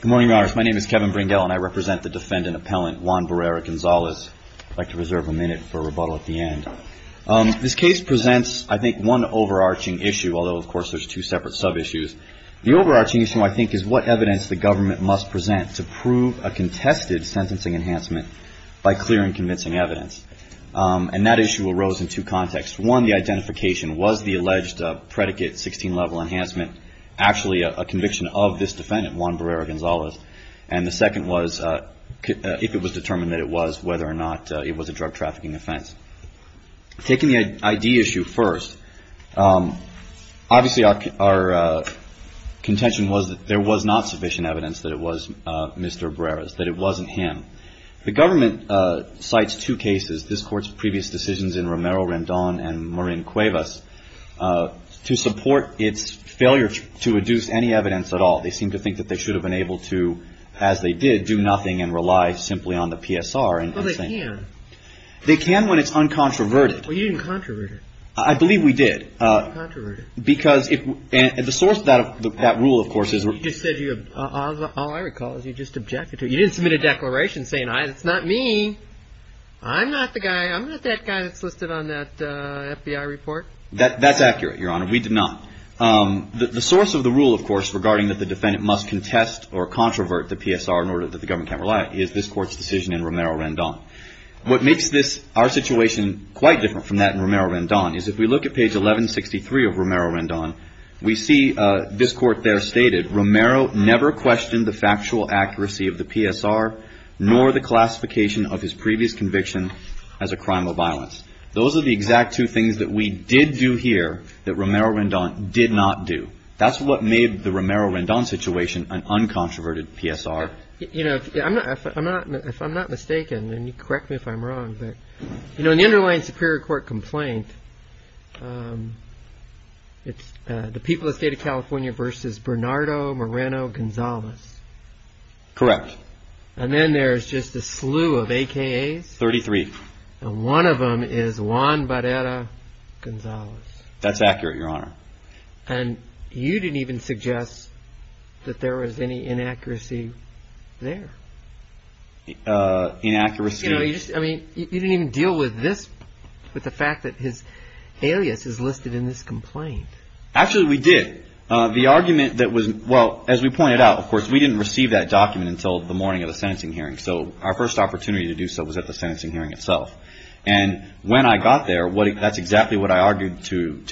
Good morning, Your Honor. My name is Kevin Brindell, and I represent the defendant appellant Juan Barrera-Gonzalez. I'd like to reserve a minute for rebuttal at the end. This case presents, I think, one overarching issue, although of course there's two separate sub-issues. The overarching issue, I think, is what evidence the government must present to prove a contested sentencing enhancement by clearing convincing evidence. And that issue arose in two contexts. One, the identification, was the alleged predicate 16-level enhancement actually a conviction of this defendant, Juan Barrera-Gonzalez? And the second was if it was determined that it was, whether or not it was a drug trafficking offense. Taking the ID issue first, obviously our contention was that there was not sufficient evidence that it was Mr. Barrera's, that it wasn't him. The government cites two cases, this Court's previous decisions in Romero-Rendon and Marin-Cuevas, to support its failure to adduce any evidence at all. They seem to think that they should have been able to, as they did, do nothing and rely simply on the PSR. Well, they can. They can when it's uncontroverted. Well, you didn't controvert it. I believe we did. You didn't controvert it. Because if, and the source of that rule, of course, is we're You just said you, all I recall is you just objected to it. You didn't submit a declaration saying it's not me. I'm not the guy. I'm not that guy that's listed on that FBI report. That's accurate, Your Honor. We did not. The source of the rule, of course, regarding that the defendant must contest or controvert the PSR in order that the government can't rely is this Court's decision in Romero-Rendon. What makes this, our situation, quite different from that in Romero-Rendon is if we look at page 1163 of Romero-Rendon, we see this Court there stated Romero never questioned the factual accuracy of the PSR nor the classification of his previous conviction as a crime of violence. Those are the exact two things that we did do here that Romero-Rendon did not do. That's what made the Romero-Rendon situation an uncontroverted PSR. If I'm not mistaken, and correct me if I'm wrong, but in the underlying Superior Court complaint, it's the people of the State of California versus Bernardo Moreno-Gonzalez. Correct. And then there's just a slew of AKAs. Thirty-three. And one of them is Juan Barrera-Gonzalez. That's accurate, Your Honor. And you didn't even suggest that there was any inaccuracy there. Inaccuracy. I mean, you didn't even deal with this, with the fact that his alias is listed in this complaint. Actually, we did. The argument that was, well, as we pointed out, of course, we didn't receive that document until the morning of the sentencing hearing. So our first opportunity to do so was at the sentencing hearing itself. And when I got there, that's exactly what I argued to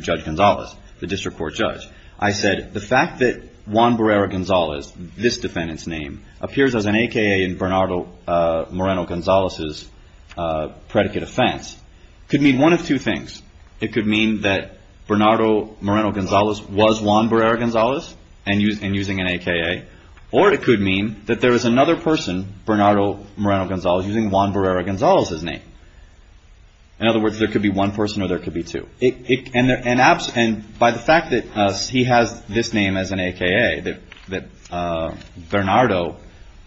Judge Gonzalez, the District Court judge. I said the fact that Juan Barrera-Gonzalez, this defendant's name, appears as an AKA in Bernardo Moreno-Gonzalez's predicate offense could mean one of two things. It could mean that Bernardo Moreno-Gonzalez was Juan Barrera-Gonzalez and using an AKA. Or it could mean that there is another person, Bernardo Moreno-Gonzalez, using Juan Barrera-Gonzalez's name. In other words, there could be one person or there could be two. And by the fact that he has this name as an AKA, that Bernardo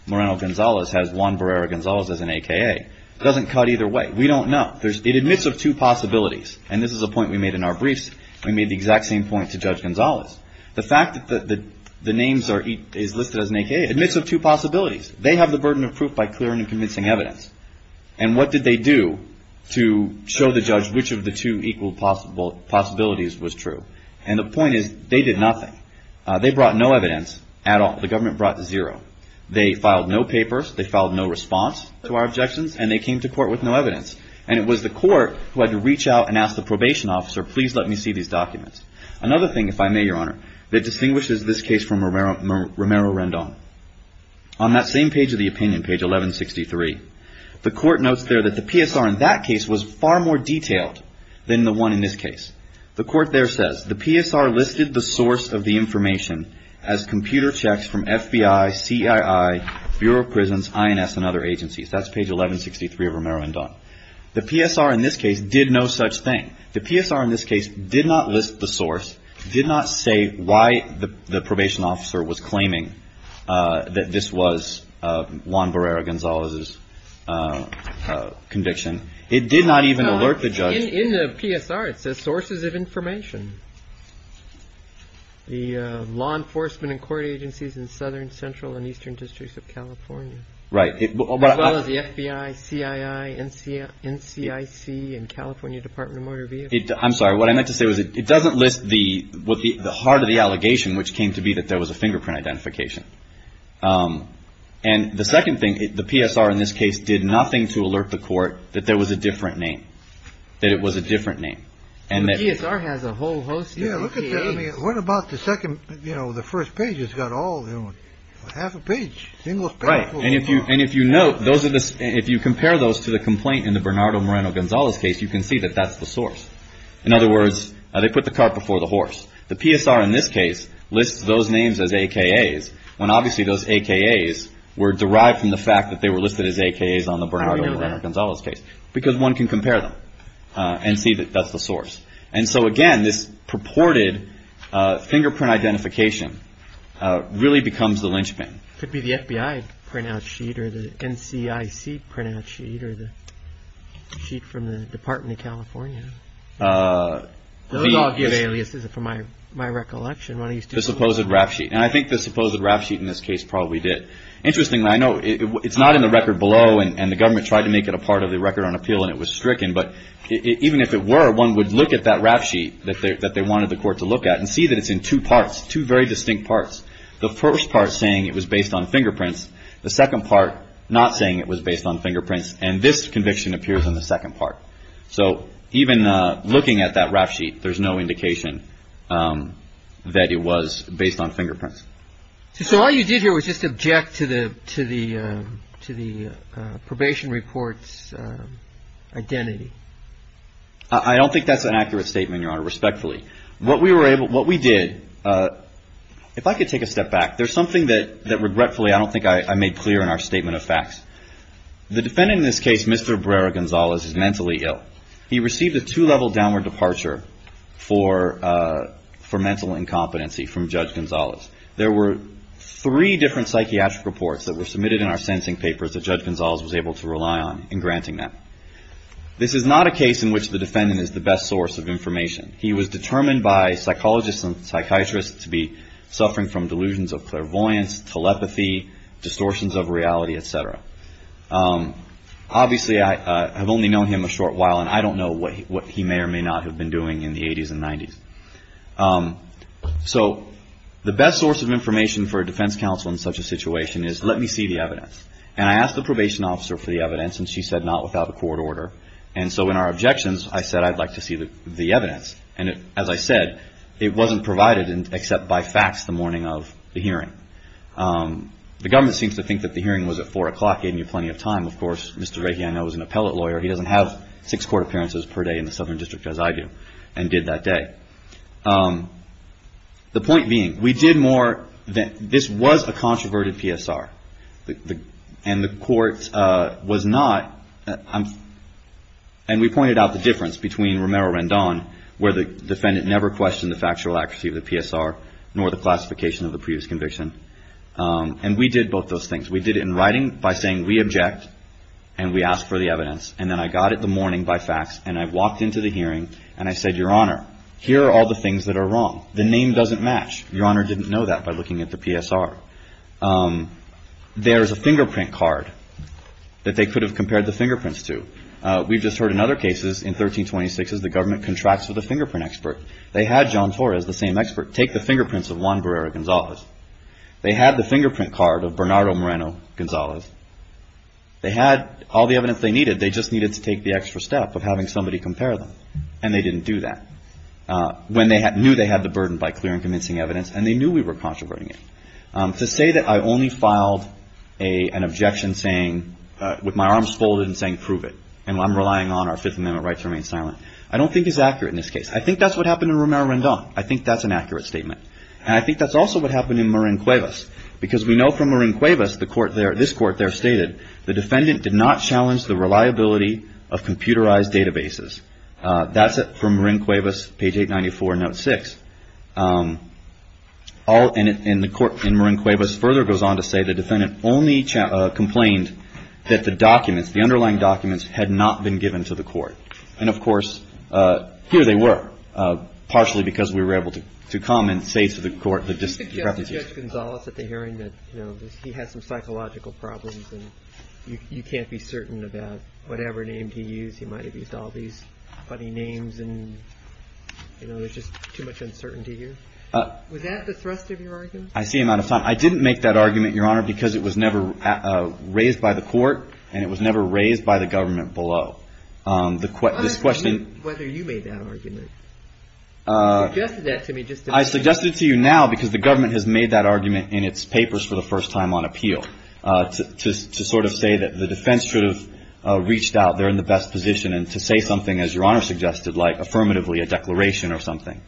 Moreno-Gonzalez has Juan Barrera-Gonzalez as an AKA, doesn't cut either way. We don't know. It admits of two possibilities. And this is a point we made in our briefs. We made the exact same point to Judge Gonzalez. The fact that the names are listed as an AKA admits of two possibilities. They have the burden of proof by clearing and convincing evidence. And what did they do to show the judge which of the two equal possibilities was true? And the point is they did nothing. They brought no evidence at all. The government brought zero. They filed no papers. They filed no response to our objections. And they came to court with no evidence. And it was the court who had to reach out and ask the probation officer, please let me see these documents. Another thing, if I may, Your Honor, that distinguishes this case from Romero-Rendon, on that same page of the opinion, page 1163, the court notes there that the PSR in that case was far more detailed than the one in this case. The court there says the PSR listed the source of the information as computer checks from FBI, CII, Bureau of Prisons, INS, and other agencies. That's page 1163 of Romero-Rendon. The PSR in this case did no such thing. The PSR in this case did not list the source, did not say why the probation officer was claiming that this was Juan Barrera-Gonzalez's conviction. It did not even alert the judge. In the PSR it says sources of information, the law enforcement and court agencies in southern, central, and eastern districts of California. Right. As well as the FBI, CII, NCIC, and California Department of Motor Vehicles. I'm sorry, what I meant to say was it doesn't list the heart of the allegation, which came to be that there was a fingerprint identification. And the second thing, the PSR in this case did nothing to alert the court that there was a different name, that it was a different name. The PSR has a whole host of pages. Yeah, look at that. I mean, what about the second, you know, the first page? It's got all, you know, half a page, single page. Right, and if you note, if you compare those to the complaint in the Bernardo Moreno-Gonzalez case, you can see that that's the source. In other words, they put the cart before the horse. The PSR in this case lists those names as AKAs, when obviously those AKAs were derived from the fact that they were listed as AKAs on the Bernardo Moreno-Gonzalez case. How do we know that? Because one can compare them and see that that's the source. And so again, this purported fingerprint identification really becomes the linchpin. Could be the FBI printout sheet or the NCIC printout sheet or the sheet from the Department of California. Those all give aliases from my recollection. The supposed rap sheet. And I think the supposed rap sheet in this case probably did. Interestingly, I know it's not in the record below, and the government tried to make it a part of the record on appeal, and it was stricken. But even if it were, one would look at that rap sheet that they wanted the court to look at and see that it's in two parts, two very distinct parts. The first part saying it was based on fingerprints. The second part not saying it was based on fingerprints. And this conviction appears in the second part. So even looking at that rap sheet, there's no indication that it was based on fingerprints. So all you did here was just object to the probation report's identity. I don't think that's an accurate statement, Your Honor, respectfully. What we did, if I could take a step back, there's something that regretfully I don't think I made clear in our statement of facts. The defendant in this case, Mr. Brera Gonzalez, is mentally ill. He received a two-level downward departure for mental incompetency from Judge Gonzalez. There were three different psychiatric reports that were submitted in our sensing papers that Judge Gonzalez was able to rely on in granting them. This is not a case in which the defendant is the best source of information. He was determined by psychologists and psychiatrists to be suffering from delusions of clairvoyance, telepathy, distortions of reality, et cetera. Obviously, I have only known him a short while, and I don't know what he may or may not have been doing in the 80s and 90s. So the best source of information for a defense counsel in such a situation is let me see the evidence. And I asked the probation officer for the evidence, and she said not without a court order. And so in our objections, I said I'd like to see the evidence. And as I said, it wasn't provided except by facts the morning of the hearing. The government seems to think that the hearing was at 4 o'clock, gave me plenty of time. Of course, Mr. Rakey, I know, is an appellate lawyer. He doesn't have six court appearances per day in the Southern District, as I do, and did that day. The point being, we did more – this was a controverted PSR. And the court was not – and we pointed out the difference between Romero-Rendon, where the defendant never questioned the factual accuracy of the PSR, nor the classification of the previous conviction. And we did both those things. We did it in writing by saying we object, and we asked for the evidence. And then I got it the morning by facts, and I walked into the hearing, and I said, Your Honor, here are all the things that are wrong. The name doesn't match. Your Honor didn't know that by looking at the PSR. There is a fingerprint card that they could have compared the fingerprints to. We've just heard in other cases, in 1326s, the government contracts with a fingerprint expert. They had John Torres, the same expert, take the fingerprints of Juan Barrera-Gonzalez. They had the fingerprint card of Bernardo Moreno-Gonzalez. They had all the evidence they needed. They just needed to take the extra step of having somebody compare them, and they didn't do that. When they knew they had the burden by clear and convincing evidence, and they knew we were controverting it. To say that I only filed an objection saying, with my arms folded, and saying prove it, and I'm relying on our Fifth Amendment rights to remain silent, I don't think is accurate in this case. I think that's what happened in Romero-Rendon. I think that's an accurate statement. And I think that's also what happened in Marin-Cuevas, because we know from Marin-Cuevas, the court there, this court there stated the defendant did not challenge the reliability of computerized databases. That's from Marin-Cuevas, page 894, note 6. And the court in Marin-Cuevas further goes on to say the defendant only complained that the documents, the underlying documents, had not been given to the court. And, of course, here they were, partially because we were able to come and say to the court. You suggested to Judge Gonzales at the hearing that he had some psychological problems and you can't be certain about whatever name he used. He might have used all these funny names and, you know, there's just too much uncertainty here. Was that the thrust of your argument? I see him out of time. I didn't make that argument, Your Honor, because it was never raised by the court and it was never raised by the government below. I'm asking you whether you made that argument. You suggested that to me just a minute ago. I suggested it to you now because the government has made that argument in its papers for the first time on appeal to sort of say that the defense should have reached out, they're in the best position, and to say something, as Your Honor suggested, like affirmatively a declaration or something.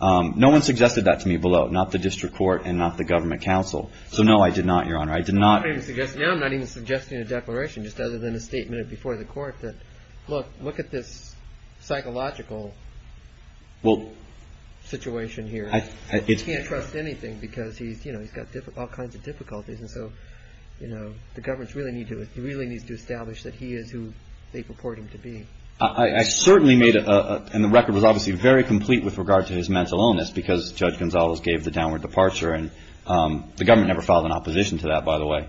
No one suggested that to me below, not the district court and not the government counsel. So, no, I did not, Your Honor, I did not. I'm not even suggesting a declaration just other than a statement before the court that, look, look at this psychological situation here. He can't trust anything because he's, you know, he's got all kinds of difficulties. And so, you know, the government really needs to establish that he is who they purport him to be. I certainly made a, and the record was obviously very complete with regard to his mental illness because Judge Gonzalez gave the downward departure. And the government never filed an opposition to that, by the way.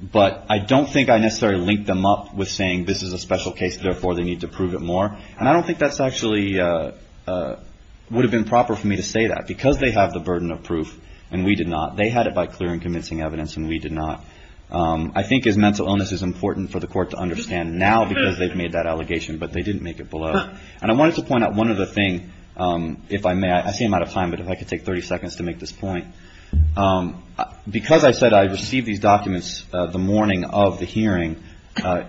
But I don't think I necessarily linked them up with saying this is a special case, therefore they need to prove it more. And I don't think that's actually would have been proper for me to say that. Because they have the burden of proof, and we did not. They had it by clear and convincing evidence, and we did not. I think his mental illness is important for the court to understand now because they've made that allegation, but they didn't make it below. And I wanted to point out one other thing, if I may. I see I'm out of time, but if I could take 30 seconds to make this point. Because I said I received these documents the morning of the hearing,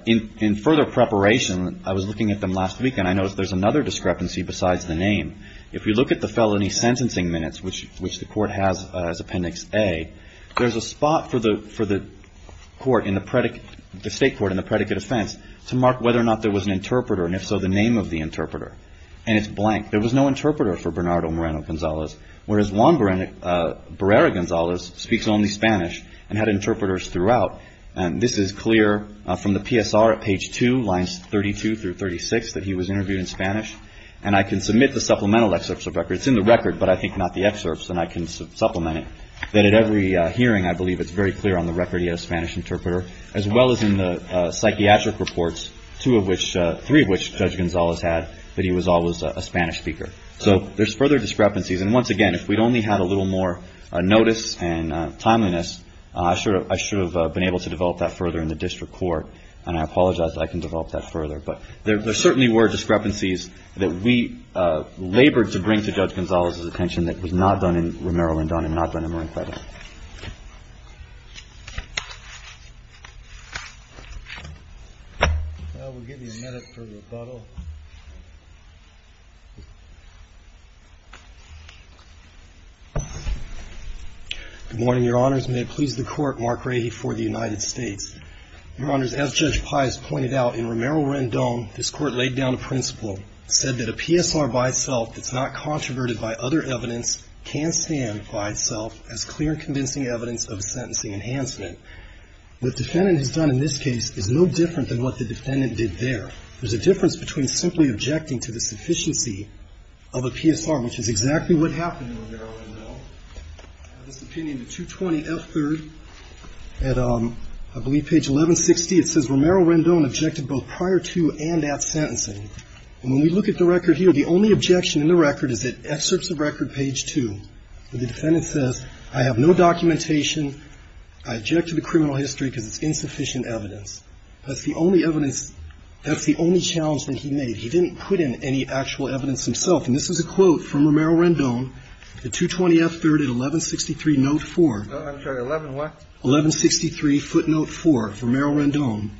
in further preparation, I was looking at them last week, and I noticed there's another discrepancy besides the name. If you look at the felony sentencing minutes, which the court has as Appendix A, there's a spot for the state court in the predicate offense to mark whether or not there was an interpreter, and if so, the name of the interpreter. And it's blank. There was no interpreter for Bernardo Moreno-Gonzalez. Whereas Juan Barrera-Gonzalez speaks only Spanish and had interpreters throughout. And this is clear from the PSR at page 2, lines 32 through 36, that he was interviewed in Spanish. And I can submit the supplemental excerpts of records. It's in the record, but I think not the excerpts, and I can supplement it. But at every hearing, I believe it's very clear on the record he had a Spanish interpreter, as well as in the psychiatric reports, two of which, three of which, Judge Gonzalez had, that he was always a Spanish speaker. So there's further discrepancies. And once again, if we'd only had a little more notice and timeliness, I should have been able to develop that further in the district court, and I apologize that I can develop that further. But there certainly were discrepancies that we labored to bring to Judge Gonzalez's attention that was not done in Romero-Lindon and not done in Marin-Credo. Well, we'll give you a minute for rebuttal. Good morning, Your Honors. May it please the Court, Mark Rahe for the United States. Your Honors, as Judge Pius pointed out, in Romero-Lindon, this Court laid down a principle, said that a PSR by itself that's not controverted by other evidence can stand by itself as clear and convincing evidence of sentencing enhancement. What the defendant has done in this case is no different than what the defendant did there. There's a difference between simply objecting to the sufficiency of a PSR, which is exactly what happened in Romero-Lindon. I have this opinion, the 220F3rd, at I believe page 1160. It says Romero-Lindon objected both prior to and at sentencing. And when we look at the record here, the only objection in the record is at excerpts of record page 2 where the defendant says, I have no documentation, I object to the criminal history because it's insufficient evidence. That's the only evidence, that's the only challenge that he made. He didn't put in any actual evidence himself. And this is a quote from Romero-Lindon, the 220F3rd at 1163 note 4. I'm sorry, 11 what? 1163 footnote 4, Romero-Lindon.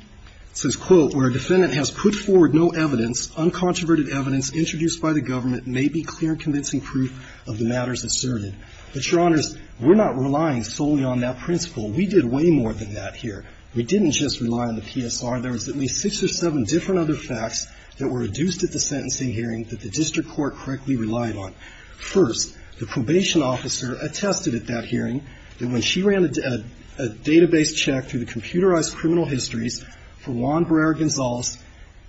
It says, quote, where a defendant has put forward no evidence, uncontroverted evidence introduced by the government may be clear convincing proof of the matters asserted. But, Your Honors, we're not relying solely on that principle. We did way more than that here. We didn't just rely on the PSR. There was at least six or seven different other facts that were reduced at the sentencing hearing that the district court correctly relied on. First, the probation officer attested at that hearing that when she ran a database check through the computerized criminal histories for Juan Barrera-Gonzalez,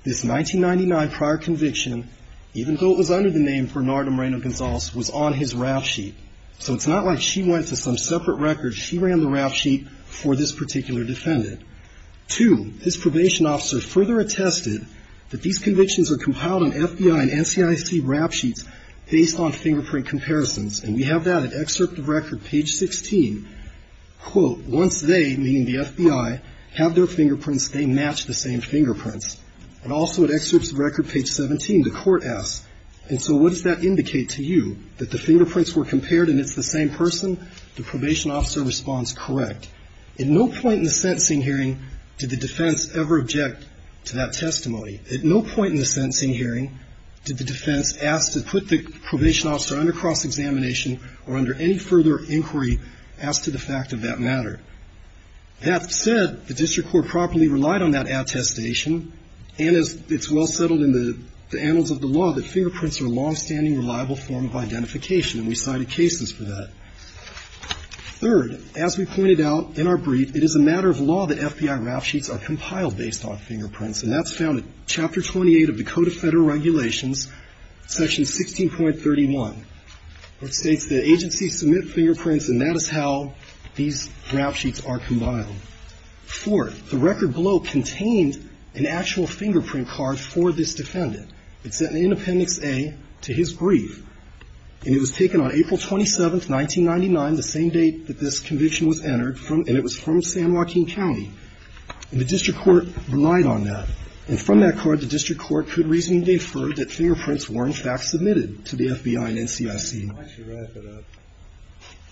this 1999 prior conviction, even though it was under the name Bernardo Moreno-Gonzalez, was on his rap sheet. So it's not like she went to some separate record. She ran the rap sheet for this particular defendant. Two, this probation officer further attested that these convictions are compiled on FBI and NCIC rap sheets based on fingerprint comparisons. And we have that at excerpt of record, page 16, quote, once they, meaning the FBI, have their fingerprints, they match the same fingerprints. And also at excerpt of record, page 17, the court asks, and so what does that indicate to you, that the fingerprints were compared and it's the same person? The probation officer responds, correct. At no point in the sentencing hearing did the defense ever object to that testimony. At no point in the sentencing hearing did the defense ask to put the probation officer under cross-examination or under any further inquiry as to the fact of that matter. That said, the district court properly relied on that attestation, and as it's well settled in the annals of the law, that fingerprints are a longstanding, reliable form of identification, and we cited cases for that. Third, as we pointed out in our brief, it is a matter of law that FBI rap sheets are compiled based on fingerprints, and that's found in Chapter 28 of the Code of Federal Regulations, Section 16.31, which states that agencies submit fingerprints, and that is how these rap sheets are compiled. Fourth, the record below contained an actual fingerprint card for this defendant. It's in Appendix A to his brief, and it was taken on April 27, 1999, the same date that this conviction was entered, and it was from San Joaquin County. And the district court relied on that. And from that card, the district court could reasonably defer that fingerprints were, in fact, submitted to the FBI and NCIC. Why don't you wrap it up?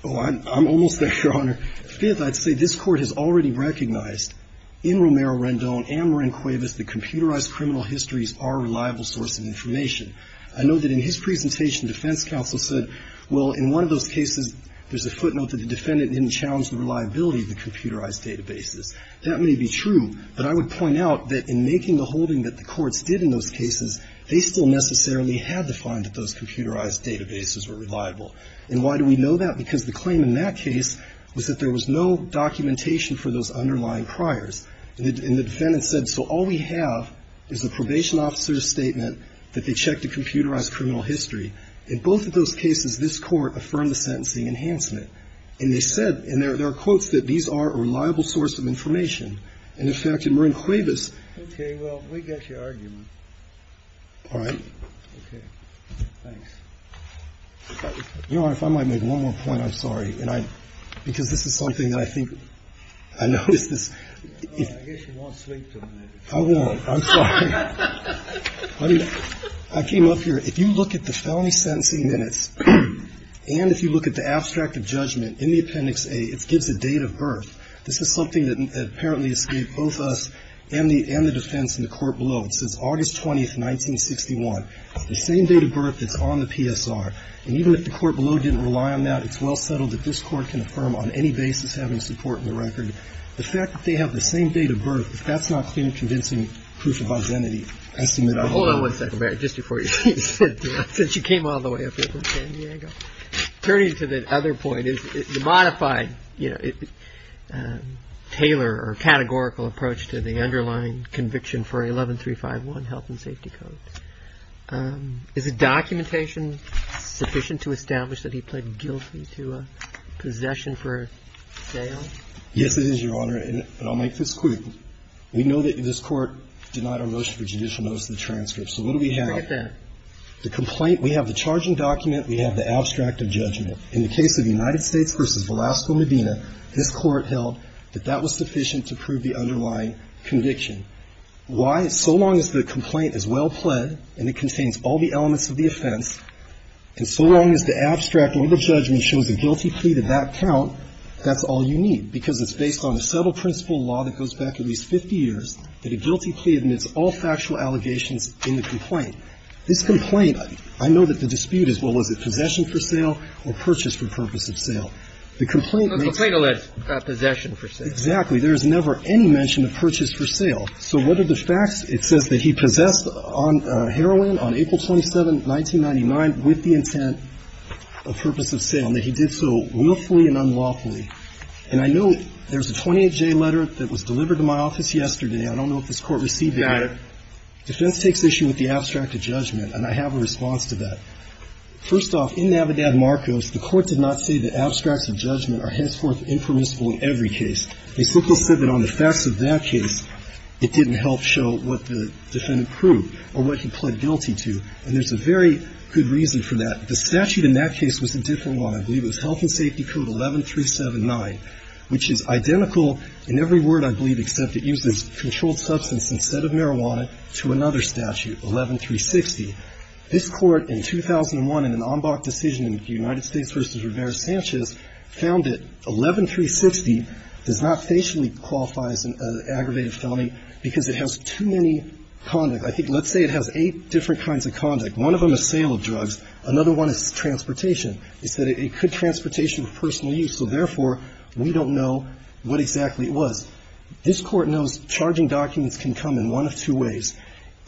Oh, I'm almost there, Your Honor. Fifth, I'd say this Court has already recognized in Romero-Rendon and Moran-Cuevas that computerized criminal histories are a reliable source of information. I know that in his presentation, defense counsel said, well, in one of those cases, there's a footnote that the defendant didn't challenge the reliability of the computerized databases. That may be true, but I would point out that in making the holding that the courts did in those cases, they still necessarily had to find that those computerized databases were reliable. And why do we know that? Because the claim in that case was that there was no documentation for those underlying priors. And the defendant said, so all we have is the probation officer's statement that they checked a computerized criminal history. In both of those cases, this Court affirmed the sentencing enhancement. And they said, and there are quotes, that these are a reliable source of information. And, in fact, in Moran-Cuevas. Okay. Well, we got your argument. All right. Okay. Thanks. Your Honor, if I might make one more point, I'm sorry. And I – because this is something that I think I noticed this. I guess you won't sleep tonight. I won't. I'm sorry. I came up here. If you look at the felony sentencing minutes and if you look at the abstract of judgment in the Appendix A, it gives a date of birth. This is something that apparently escaped both us and the defense in the court below. It says August 20th, 1961. The same date of birth that's on the PSR. And even if the court below didn't rely on that, it's well settled that this Court can affirm on any basis having support in the record. The fact that they have the same date of birth, if that's not convincing proof of identity, I submit. Hold on one second, Barry, just before you finish. Since you came all the way up here from San Diego. Turning to the other point, the modified, you know, tailor or categorical approach to the underlying conviction for 11351, health and safety codes. Is the documentation sufficient to establish that he pled guilty to possession for sale? Yes, it is, Your Honor. And I'll make this quick. We know that this Court denied a motion for judicial notice of the transcript. So what do we have? Right there. The complaint, we have the charging document, we have the abstract of judgment. In the case of United States v. Velasco Medina, this Court held that that was sufficient to prove the underlying conviction. Why? So long as the complaint is well pled and it contains all the elements of the offense, and so long as the abstract or the judgment shows a guilty plea to that count, that's all you need, because it's based on a subtle principle law that goes back at least 50 years that a guilty plea admits all factual allegations in the complaint. This complaint, I know that the dispute is, well, is it possession for sale or purchase for purpose of sale? The complaint makes no mention of that. Possession for sale. Exactly. There is never any mention of purchase for sale. So what are the facts? It says that he possessed heroin on April 27, 1999, with the intent of purpose of sale, and that he did so willfully and unlawfully. And I know there's a 28J letter that was delivered to my office yesterday. I don't know if this Court received it. Got it. Defense takes issue with the abstract of judgment, and I have a response to that. First off, in Navidad-Marcos, the Court did not say that abstracts of judgment are henceforth impermissible in every case. They simply said that on the facts of that case, it didn't help show what the defendant proved or what he pled guilty to. And there's a very good reason for that. The statute in that case was a different one. I believe it was Health and Safety Code 11379, which is identical in every word, I believe, except it uses controlled substance instead of marijuana, to another statute, 11360. This Court, in 2001, in an en banc decision in the United States v. Rivera-Sanchez, found that 11360 does not facially qualify as an aggravated felony because it has too many conducts. I think let's say it has eight different kinds of conduct, one of them a sale of drugs, another one is transportation. It said it could transportation of personal use, so therefore, we don't know what exactly it was. This Court knows charging documents can come in one of two ways.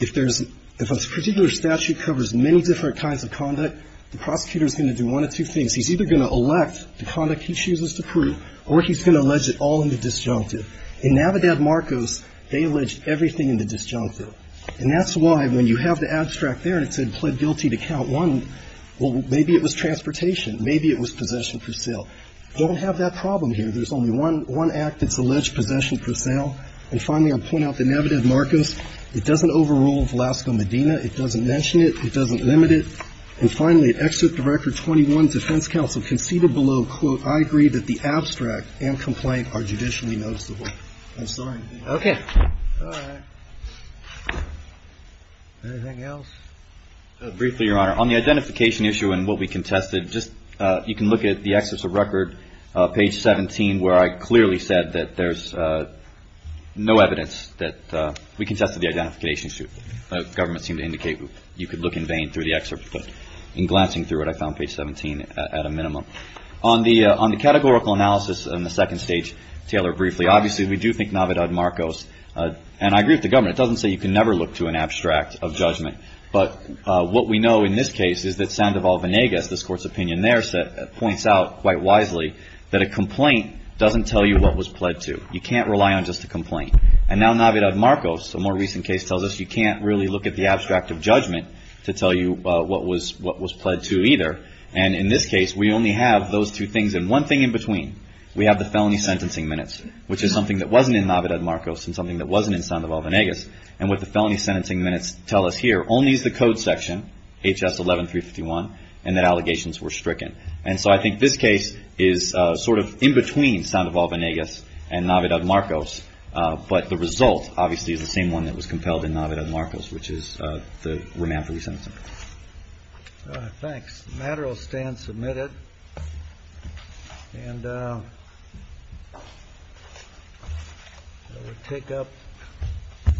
If there's – if a particular statute covers many different kinds of conduct, the prosecutor is going to do one of two things. He's either going to elect the conduct he chooses to prove, or he's going to allege it all in the disjunctive. In Navidad-Marcos, they allege everything in the disjunctive. And that's why, when you have the abstract there and it said pled guilty to count one, well, maybe it was transportation. Maybe it was possession per sale. They don't have that problem here. There's only one act that's alleged possession per sale. And finally, I'll point out the Navidad-Marcos. It doesn't overrule Velasco-Medina. It doesn't mention it. It doesn't limit it. And finally, at Excerpt to Record 21, defense counsel conceded below, quote, I agree that the abstract and complaint are judicially noticeable. I'm sorry. Okay. All right. Briefly, Your Honor. On the identification issue and what we contested, just you can look at the Excerpt to Record, page 17, where I clearly said that there's no evidence that we contested the identification issue. The government seemed to indicate you could look in vain through the excerpt. But in glancing through it, I found page 17 at a minimum. On the categorical analysis on the second stage, Taylor, briefly, obviously, we do think Navidad-Marcos. And I agree with the government. It doesn't say you can never look to an abstract of judgment. But what we know in this case is that Sandoval-Venegas, this Court's opinion there, points out quite wisely that a complaint doesn't tell you what was pled to. You can't rely on just a complaint. And now Navidad-Marcos, a more recent case, tells us you can't really look at the abstract of judgment to tell you what was pled to either. And in this case, we only have those two things and one thing in between. We have the felony sentencing minutes, which is something that wasn't in Navidad-Marcos and something that wasn't in Sandoval-Venegas. And what the felony sentencing minutes tell us here only is the code section, H.S. 11351, and that allegations were stricken. And so I think this case is sort of in between Sandoval-Venegas and Navidad-Marcos. But the result, obviously, is the same one that was compelled in Navidad-Marcos, which is the remand for resentment. All right, thanks. The matter will stand submitted. And we'll take up.